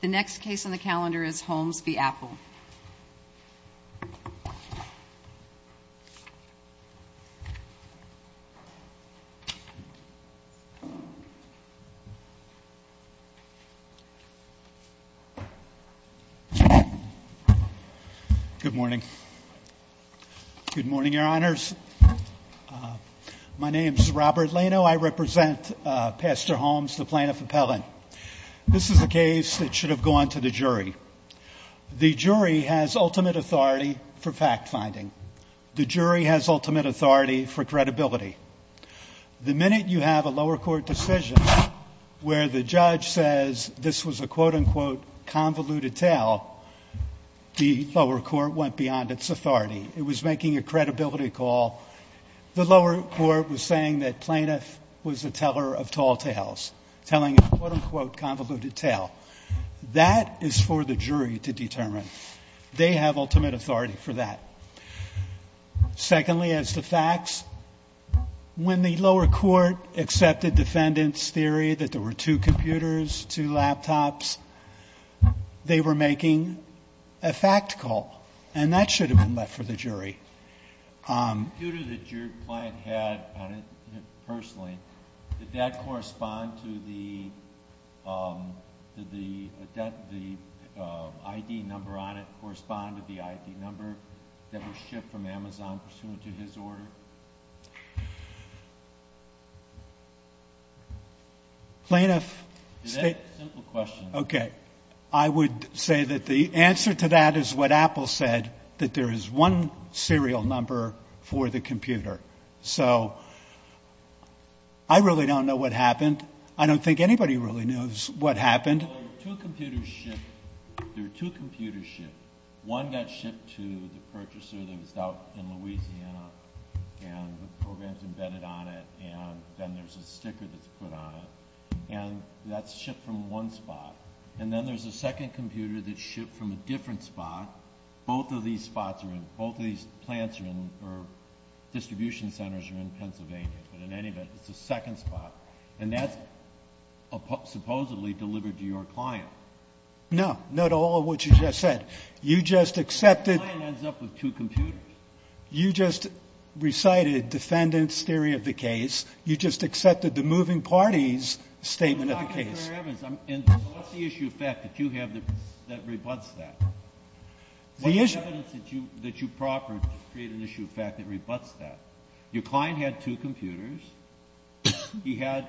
The next case on the calendar is Holmes v. Apple. Good morning. Good morning, Your Honors. My name is Robert Lano. I represent Pastor Holmes, the plaintiff appellant. This is a case that should have gone to the jury. The jury has ultimate authority for fact-finding. The jury has ultimate authority for credibility. The minute you have a lower court decision where the judge says this was a quote-unquote convoluted tale, the lower court went beyond its authority. It was making a credibility call. The lower court was saying that plaintiff was a teller of tall tales, telling a quote-unquote convoluted tale. That is for the jury to determine. They have ultimate authority for that. Secondly, as to facts, when the lower court accepted defendant's theory that there were two computers, two laptops, they were making a fact call, and that should have been left for the jury. The computer that your client had personally, did that correspond to the ID number on it, correspond to the ID number that was shipped from Amazon pursuant to his order? Plaintiff. Is that a simple question? Okay. I would say that the answer to that is what Apple said, that there is one serial number for the computer. So I really don't know what happened. I don't think anybody really knows what happened. Two computers shipped. There were two computers shipped. One got shipped to the purchaser that was out in Louisiana, and the program's embedded on it, and then there's a sticker that's put on it, and that's shipped from one spot. And then there's a second computer that's shipped from a different spot. Both of these spots are in, both of these plants are in, or distribution centers are in Pennsylvania. But in any event, it's a second spot, and that's supposedly delivered to your client. No. Not all of what you just said. You just accepted. The client ends up with two computers. You just recited defendant's theory of the case. You just accepted the moving party's statement of the case. So what's the issue of fact that you have that rebutts that? What's the evidence that you proffer to create an issue of fact that rebutts that? Your client had two computers. He had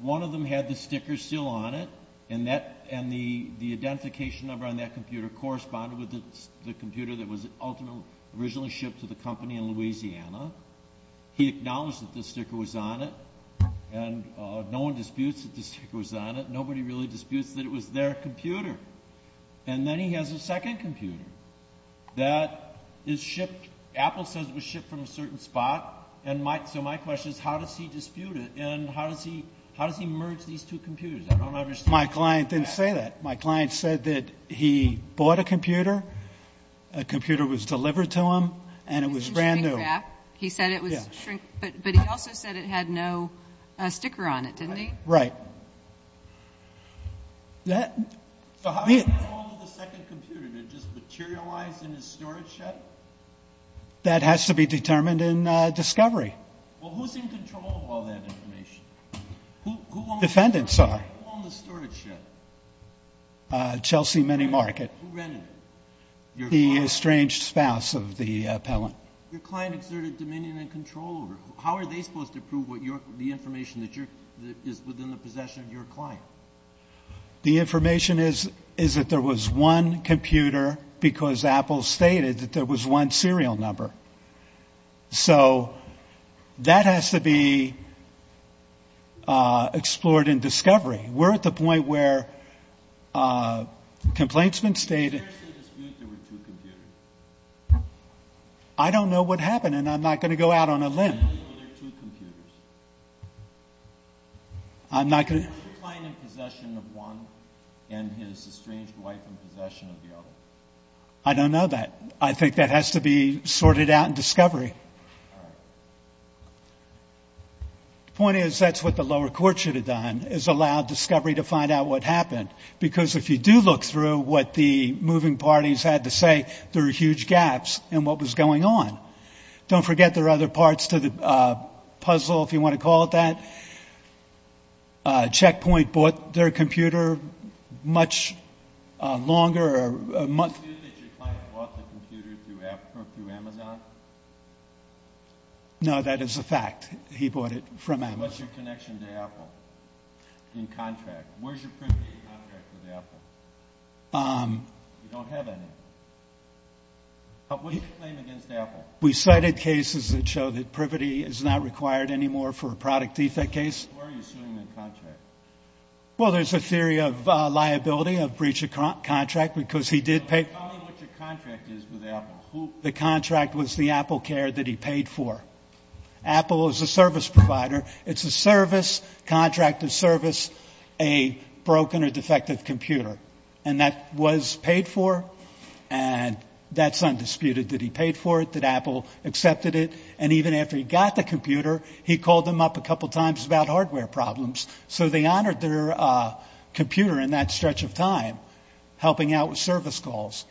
one of them had the sticker still on it, and the identification number on that computer corresponded with the computer that was originally shipped to the company in Louisiana. He acknowledged that the sticker was on it, and no one disputes that the sticker was on it. Nobody really disputes that it was their computer. And then he has a second computer that is shipped. Apple says it was shipped from a certain spot, and so my question is how does he dispute it and how does he merge these two computers? I don't understand. My client didn't say that. My client said that he bought a computer, a computer was delivered to him, and it was brand new. He said it was shrinked, but he also said it had no sticker on it, didn't he? Right. So how did he get hold of the second computer? Did it just materialize in his storage shed? That has to be determined in discovery. Well, who's in control of all that information? Defendant, sorry. Who owned the storage shed? Chelsea Mini Market. Who rented it? The estranged spouse of the appellant. Your client exerted dominion and control over it. How are they supposed to prove the information that is within the possession of your client? The information is that there was one computer because Apple stated that there was one serial number. So that has to be explored in discovery. We're at the point where complaints have been stated. I'm curious to dispute there were two computers. I don't know what happened, and I'm not going to go out on a limb. I know there were two computers. Was your client in possession of one and his estranged wife in possession of the other? I don't know that. I think that has to be sorted out in discovery. All right. The point is that's what the lower court should have done, is allowed discovery to find out what happened, because if you do look through what the moving parties had to say, there are huge gaps in what was going on. Don't forget there are other parts to the puzzle, if you want to call it that. Check Point bought their computer much longer. Do you dispute that your client bought the computer through Amazon? No, that is a fact. He bought it from Amazon. What's your connection to Apple in contract? Where's your privity in contract with Apple? We don't have any. What's your claim against Apple? We cited cases that show that privity is not required anymore for a product defect case. Why are you suing in contract? Well, there's a theory of liability, of breach of contract, because he did pay. Tell me what your contract is with Apple. The contract was the AppleCare that he paid for. Apple is a service provider. It's a service, contract of service, a broken or defective computer. And that was paid for, and that's undisputed that he paid for it, that Apple accepted it. And even after he got the computer, he called them up a couple times about hardware problems. So they honored their computer in that stretch of time, helping out with service calls.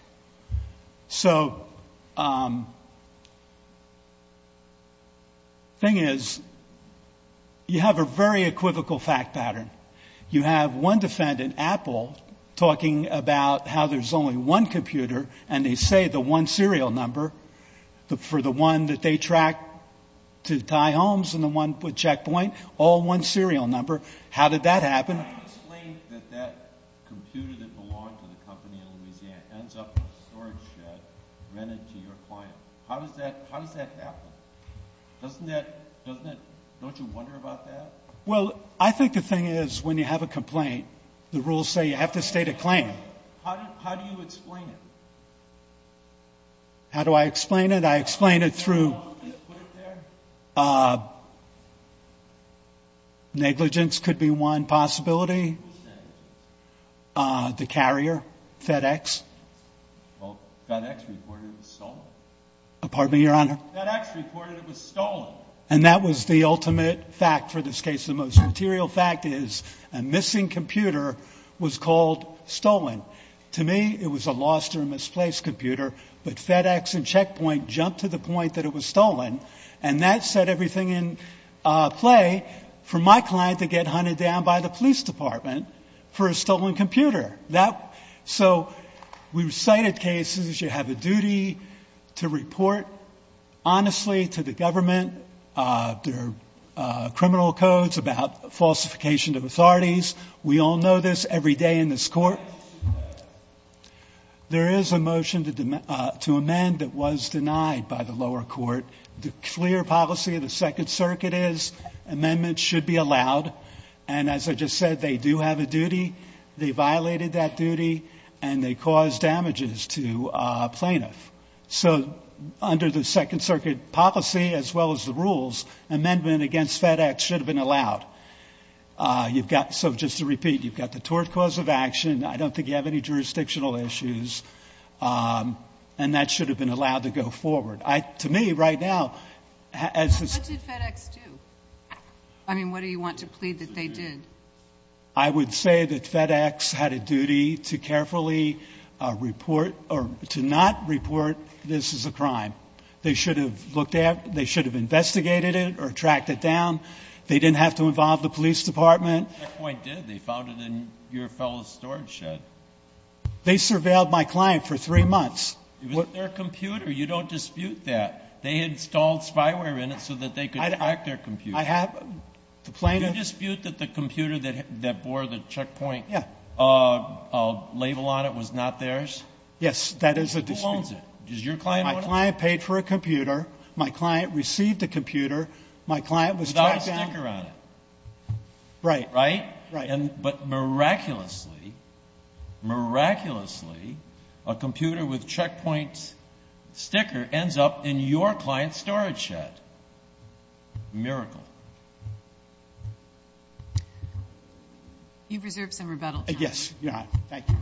So the thing is, you have a very equivocal fact pattern. You have one defendant, Apple, talking about how there's only one computer, and they say the one serial number for the one that they track to tie homes and the one checkpoint, all one serial number. How did that happen? How do you explain that that computer that belonged to the company in Louisiana ends up in a storage shed rented to your client? How does that happen? Doesn't that – don't you wonder about that? Well, I think the thing is, when you have a complaint, the rules say you have to state a claim. How do you explain it? How do I explain it? I explain it through negligence could be one possibility, the carrier, FedEx. Well, FedEx reported it was stolen. Pardon me, Your Honor? FedEx reported it was stolen. And that was the ultimate fact for this case. The most material fact is a missing computer was called stolen. To me, it was a lost or misplaced computer, but FedEx and Checkpoint jumped to the point that it was stolen, and that set everything in play for my client to get hunted down by the police department for a stolen computer. So we recited cases. You have a duty to report honestly to the government. We all know this every day in this court. There is a motion to amend that was denied by the lower court. The clear policy of the Second Circuit is amendments should be allowed. And as I just said, they do have a duty. They violated that duty, and they caused damages to a plaintiff. So under the Second Circuit policy, as well as the rules, amendment against FedEx should have been allowed. So just to repeat, you've got the tort cause of action. I don't think you have any jurisdictional issues. And that should have been allowed to go forward. To me, right now, as this— What did FedEx do? I mean, what do you want to plead that they did? I would say that FedEx had a duty to carefully report or to not report this as a crime. They should have looked at it. They should have investigated it or tracked it down. They didn't have to involve the police department. Checkpoint did. They found it in your fellow's storage shed. They surveilled my client for three months. It was their computer. You don't dispute that. They installed spyware in it so that they could track their computer. Do you dispute that the computer that bore the Checkpoint label on it was not theirs? Yes, that is a dispute. Who owns it? Does your client own it? My client paid for a computer. My client received a computer. My client was tracked down. Without a sticker on it. Right. Right? Right. But miraculously, miraculously, a computer with Checkpoint's sticker ends up in your client's storage shed. Miracle. You've reserved some rebuttal time. Yes. Your Honor. Thank you.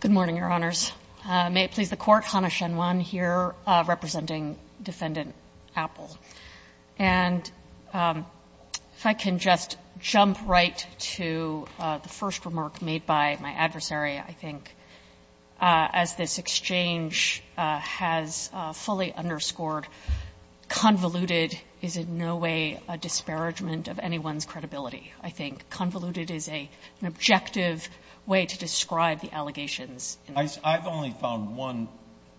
Good morning, Your Honors. May it please the Court. Hannah Shen Wan here representing Defendant Apple. And if I can just jump right to the first remark made by my adversary. I think as this exchange has fully underscored, convoluted is in no way a disparagement of anyone's credibility. I think convoluted is an objective way to describe the allegations. I've only found one.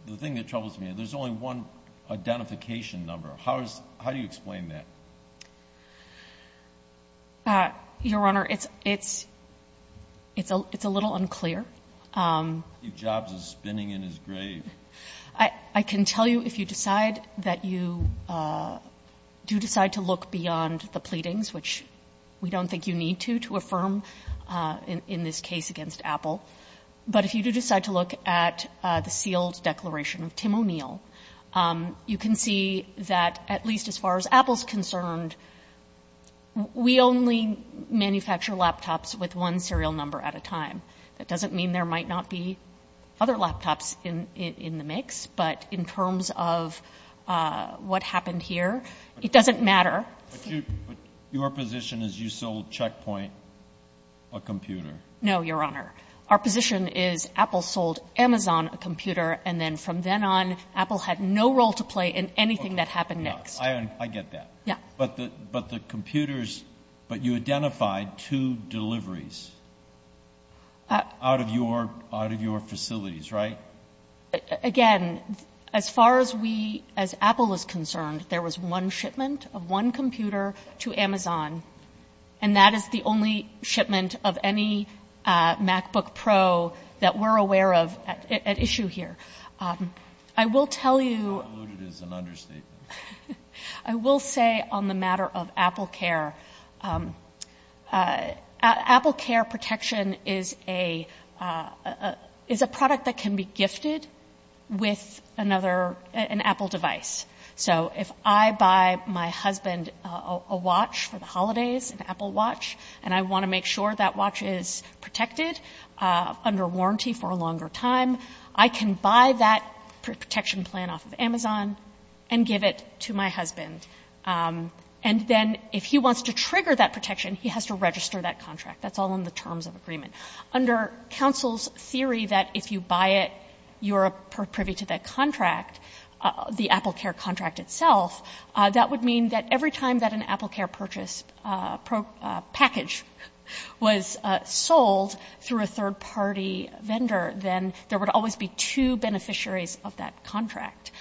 The thing that troubles me, there's only one identification number. How do you explain that? Your Honor, it's a little unclear. Steve Jobs is spinning in his grave. I can tell you if you decide that you do decide to look beyond the pleadings, which we don't think you need to, to affirm in this case against Apple. But if you do decide to look at the sealed declaration of Tim O'Neill, you can see that at least as far as Apple's concerned, we only manufacture laptops with one serial number at a time. That doesn't mean there might not be other laptops in the mix. But in terms of what happened here, it doesn't matter. No, Your Honor. Our position is Apple sold Amazon a computer, and then from then on, Apple had no role to play in anything that happened next. I get that. Yeah. But the computers, but you identified two deliveries out of your facilities, right? Again, as far as we, as Apple is concerned, there was one shipment of one computer to Amazon, and that is the only shipment of any MacBook Pro that we're aware of at issue here. I will tell you — Not alluded is an understatement. I will say on the matter of AppleCare, AppleCare Protection is a product that can be gifted with another, an Apple device. So if I buy my husband a watch for the holidays, an Apple watch, and I want to make sure that watch is protected under warranty for a longer time, I can buy that protection plan off of Amazon and give it to my husband. And then if he wants to trigger that protection, he has to register that contract. That's all in the terms of agreement. Under counsel's theory that if you buy it, you're privy to that contract, the AppleCare contract itself, that would mean that every time that an AppleCare purchase package was sold through a third-party vendor, then there would always be two beneficiaries of that contract.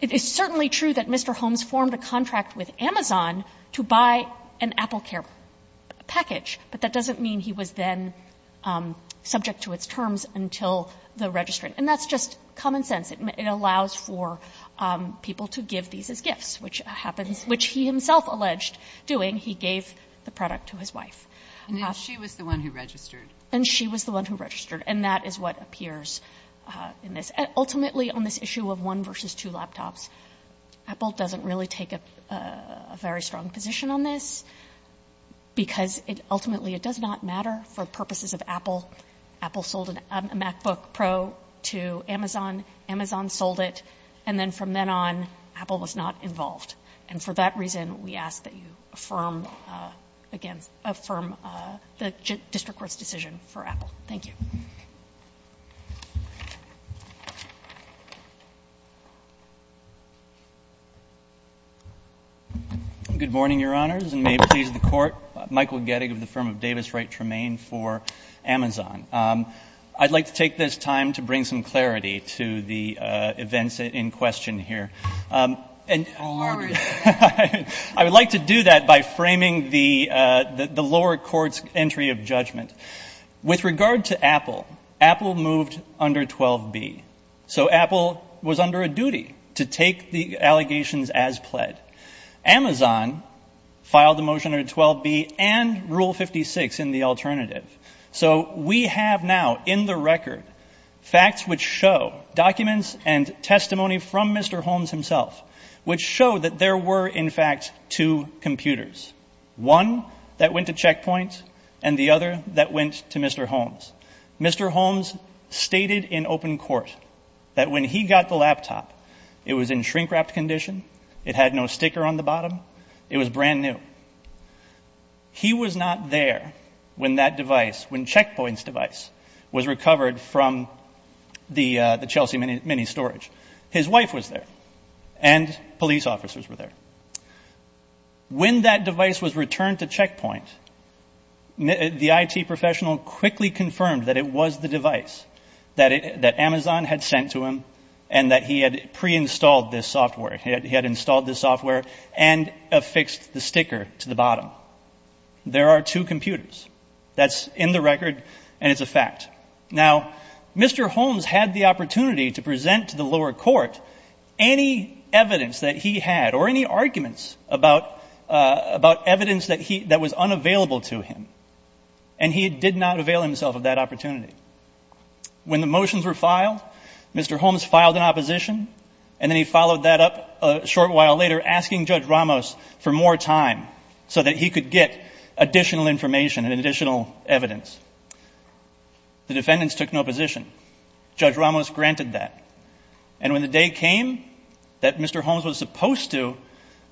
It is certainly true that Mr. Holmes formed a contract with Amazon to buy an AppleCare package, but that doesn't mean he was then subject to its terms until the registering. And that's just common sense. It allows for people to give these as gifts, which happens — which he himself alleged doing. He gave the product to his wife. And then she was the one who registered. And she was the one who registered. And that is what appears in this. Ultimately, on this issue of one versus two laptops, Apple doesn't really take a very strong position on this because, ultimately, it does not matter for purposes of Apple. Apple sold a MacBook Pro to Amazon. Amazon sold it. And then from then on, Apple was not involved. And for that reason, we ask that you affirm — again, affirm the district court's decision for Apple. Thank you. Good morning, Your Honors, and may it please the Court. Michael Gettig of the firm of Davis Wright Tremaine for Amazon. I'd like to take this time to bring some clarity to the events in question here. And I would like to do that by framing the lower court's entry of judgment. With regard to Apple, Apple moved under 12B. So Apple was under a duty to take the allegations as pled. Amazon filed the motion under 12B and Rule 56 in the alternative. So we have now, in the record, facts which show, documents and testimony from Mr. Holmes himself, which show that there were, in fact, two computers, one that went to Check Point and the other that went to Mr. Holmes. Mr. Holmes stated in open court that when he got the laptop, it was in shrink-wrapped condition. It had no sticker on the bottom. It was brand new. He was not there when that device, when Check Point's device, was recovered from the Chelsea Mini storage. His wife was there. And police officers were there. When that device was returned to Check Point, the IT professional quickly confirmed that it was the device that Amazon had sent to him and that he had pre-installed this software. He had installed this software and affixed the sticker to the bottom. There are two computers. Now, Mr. Holmes had the opportunity to present to the lower court any evidence that he had or any arguments about evidence that was unavailable to him, and he did not avail himself of that opportunity. When the motions were filed, Mr. Holmes filed an opposition, and then he followed that up a short while later asking Judge Ramos for more time so that he could get additional information and additional evidence. The defendants took no position. Judge Ramos granted that. And when the day came that Mr. Holmes was supposed to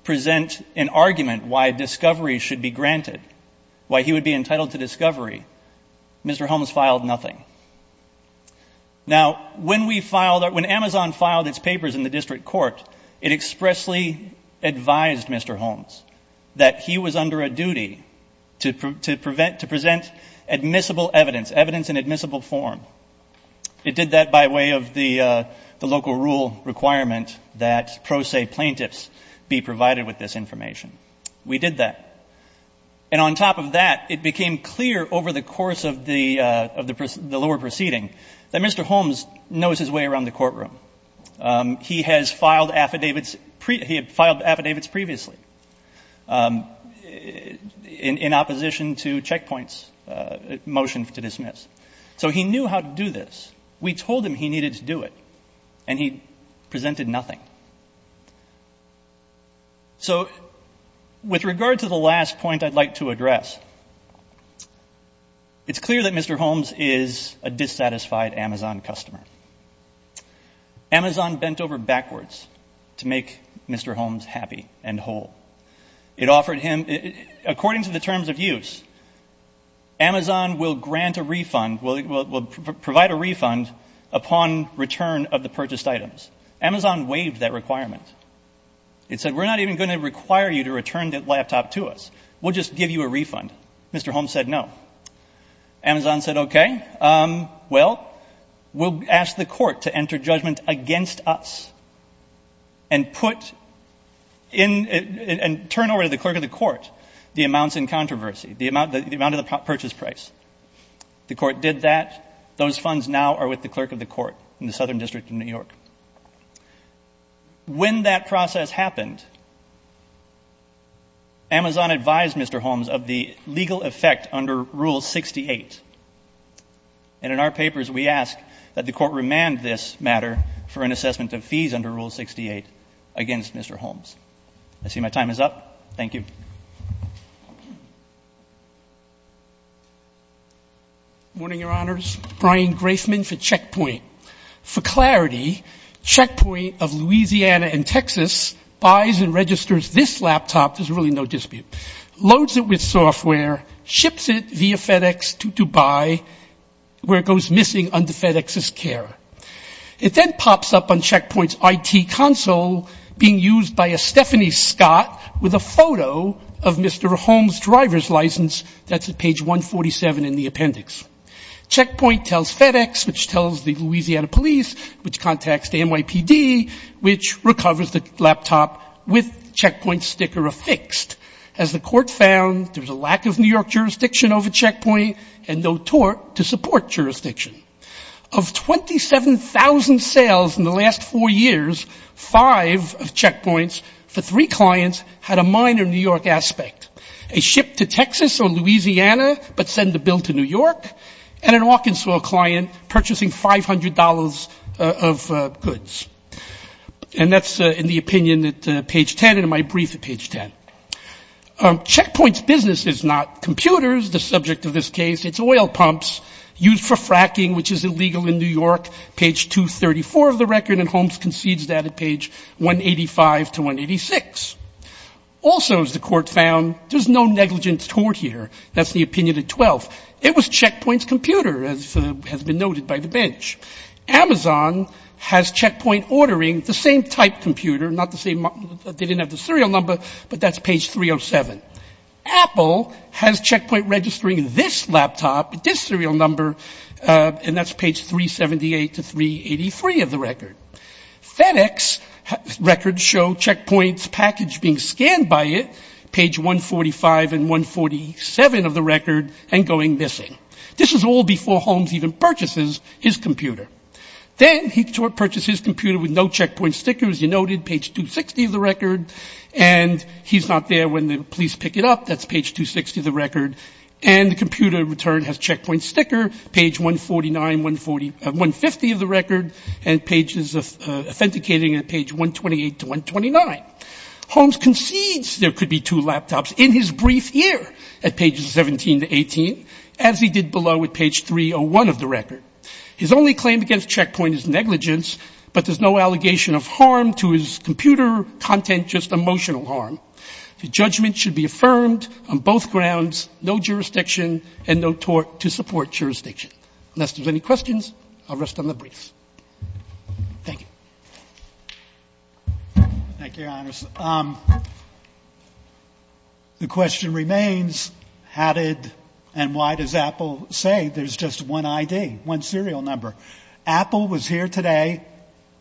present an argument why discovery should be granted, why he would be entitled to discovery, Mr. Holmes filed nothing. Now, when Amazon filed its papers in the district court, it expressly advised Mr. Holmes that he was under a duty to present admissible evidence, evidence in admissible form. It did that by way of the local rule requirement that pro se plaintiffs be provided with this information. We did that. And on top of that, it became clear over the course of the lower proceeding that Mr. Holmes knows his way around the courtroom. He has filed affidavits previously in opposition to checkpoints motion to dismiss. So he knew how to do this. We told him he needed to do it, and he presented nothing. So with regard to the last point I'd like to address, it's clear that Mr. Holmes is a dissatisfied Amazon customer. Amazon bent over backwards to make Mr. Holmes happy and whole. It offered him, according to the terms of use, Amazon will grant a refund, will provide a refund upon return of the purchased items. Amazon waived that requirement. It said, we're not even going to require you to return that laptop to us. We'll just give you a refund. Mr. Holmes said no. Amazon said, okay, well, we'll ask the court to enter judgment against us and turn over to the clerk of the court the amounts in controversy, the amount of the purchase price. The court did that. Those funds now are with the clerk of the court in the Southern District of New York. When that process happened, Amazon advised Mr. Holmes of the legal effect under Rule 68, and in our papers we ask that the court remand this matter for an assessment of fees under Rule 68 against Mr. Holmes. I see my time is up. Thank you. Morning, Your Honors. Brian Grafman for Checkpoint. For clarity, Checkpoint of Louisiana and Texas buys and registers this laptop, there's really no dispute, loads it with software, ships it via FedEx to Dubai where it goes missing under FedEx's care. It then pops up on Checkpoint's IT console being used by a Stephanie Scott with a photo of Mr. Holmes' driver's license that's at page 147 in the appendix. Checkpoint tells FedEx, which tells the Louisiana police, which contacts the NYPD, which recovers the laptop with Checkpoint's sticker affixed. As the court found, there's a lack of New York jurisdiction over Checkpoint and no tort to support jurisdiction. Of 27,000 sales in the last four years, five of Checkpoint's, for three clients, had a minor New York aspect. A ship to Texas or Louisiana, but send the bill to New York, and an Arkansas client purchasing $500 of goods. And that's in the opinion at page 10 and in my brief at page 10. Checkpoint's business is not computers, the subject of this case. It's oil pumps used for fracking, which is illegal in New York, page 234 of the record, and Holmes concedes that at page 185 to 186. Also, as the court found, there's no negligence tort here. That's the opinion at 12. It was Checkpoint's computer, as has been noted by the bench. Amazon has Checkpoint ordering the same type computer, not the same, they didn't have the serial number, but that's page 307. Apple has Checkpoint registering this laptop, this serial number, and that's page 378 to 383 of the record. FedEx records show Checkpoint's package being scanned by it, page 145 and 147 of the record, and going missing. This is all before Holmes even purchases his computer. Then he purchases his computer with no Checkpoint sticker, as you noted, page 260 of the record, and he's not there when the police pick it up, that's page 260 of the record, and the computer in return has Checkpoint sticker, page 149, 150 of the record, and pages authenticating at page 128 to 129. Holmes concedes there could be two laptops in his brief year at pages 17 to 18, as he did below at page 301 of the record. His only claim against Checkpoint is negligence, but there's no allegation of harm to his computer content, just emotional harm. The judgment should be affirmed on both grounds, no jurisdiction and no tort to support jurisdiction. Unless there's any questions, I'll rest on the briefs. Thank you. Thank you, Your Honors. The question remains, how did and why does Apple say there's just one ID, one serial number? Apple was here today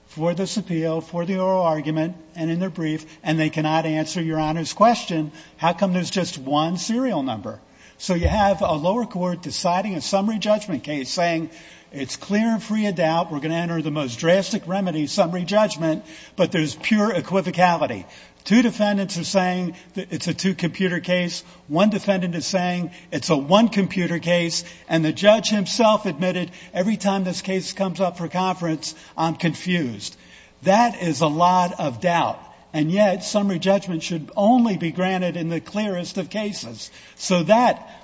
for this appeal, for the oral argument, and in their brief, and they cannot answer Your Honor's question, how come there's just one serial number? So you have a lower court deciding a summary judgment case, saying it's clear and free of doubt, we're going to enter the most drastic remedy, summary judgment, but there's pure equivocality. Two defendants are saying it's a two-computer case, one defendant is saying it's a one-computer case, and the judge himself admitted every time this case comes up for conference, I'm confused. That is a lot of doubt, and yet summary judgment should only be granted in the clearest of cases. So that,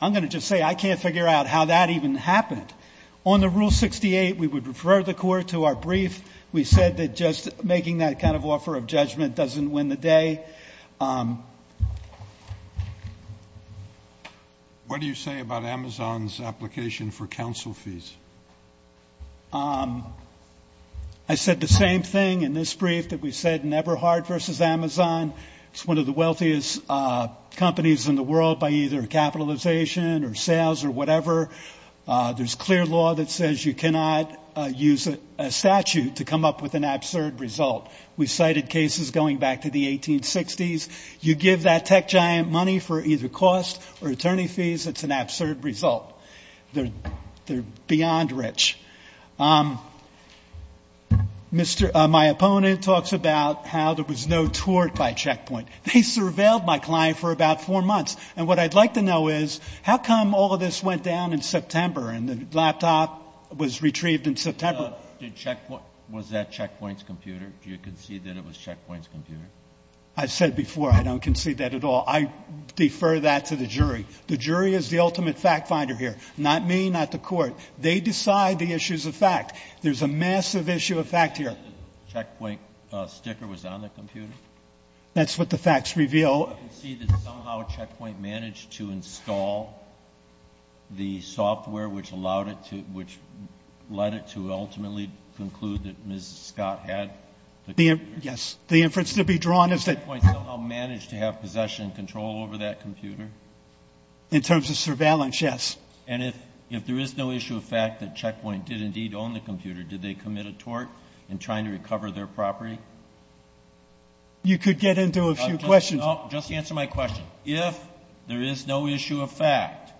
I'm going to just say I can't figure out how that even happened. On the Rule 68, we would refer the court to our brief. We said that just making that kind of offer of judgment doesn't win the day. What do you say about Amazon's application for counsel fees? I said the same thing in this brief that we said in Eberhard versus Amazon. It's one of the wealthiest companies in the world by either capitalization or sales or whatever. There's clear law that says you cannot use a statute to come up with an absurd result. We cited cases going back to the 1860s. You give that tech giant money for either cost or attorney fees, it's an absurd result. They're beyond rich. My opponent talks about how there was no tort by Checkpoint. They surveilled my client for about four months, and what I'd like to know is, how come all of this went down in September and the laptop was retrieved in September? Was that Checkpoint's computer? Do you concede that it was Checkpoint's computer? I said before I don't concede that at all. I defer that to the jury. The jury is the ultimate fact finder here, not me, not the court. They decide the issues of fact. There's a massive issue of fact here. Checkpoint sticker was on the computer? That's what the facts reveal. Do you concede that somehow Checkpoint managed to install the software which allowed it to, which led it to ultimately conclude that Ms. Scott had the computer? Yes. The inference to be drawn is that. Did Checkpoint somehow manage to have possession and control over that computer? In terms of surveillance, yes. And if there is no issue of fact that Checkpoint did indeed own the computer, did they commit a tort in trying to recover their property? You could get into a few questions. No, just answer my question. If there is no issue of fact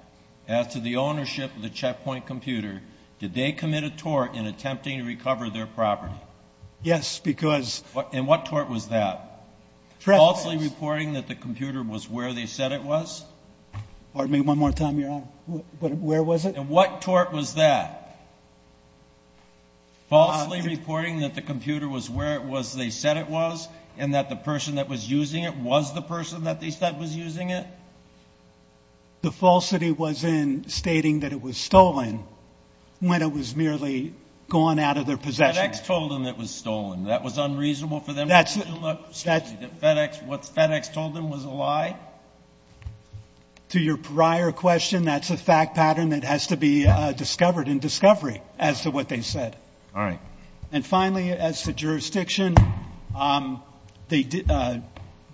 as to the ownership of the Checkpoint computer, did they commit a tort in attempting to recover their property? Yes, because. And what tort was that? Falsely reporting that the computer was where they said it was? Pardon me one more time, Your Honor. Where was it? And what tort was that? Falsely reporting that the computer was where it was they said it was and that the person that was using it was the person that they said was using it? The falsity was in stating that it was stolen when it was merely gone out of their possession. FedEx told them it was stolen. That was unreasonable for them to assume that what FedEx told them was a lie? To your prior question, that's a fact pattern that has to be discovered in discovery as to what they said. All right. And, finally, as to jurisdiction, the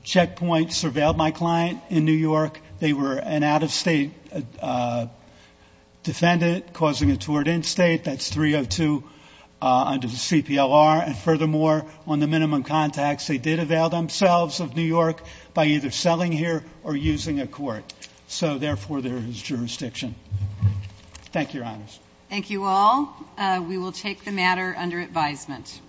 Checkpoint surveilled my client in New York. They were an out-of-state defendant causing a tort in-state. That's 302 under the CPLR. And, furthermore, on the minimum contacts, they did avail themselves of New York by either selling here or using a court. So, therefore, there is jurisdiction. Thank you, Your Honors. Thank you all. We will take the matter under advisement.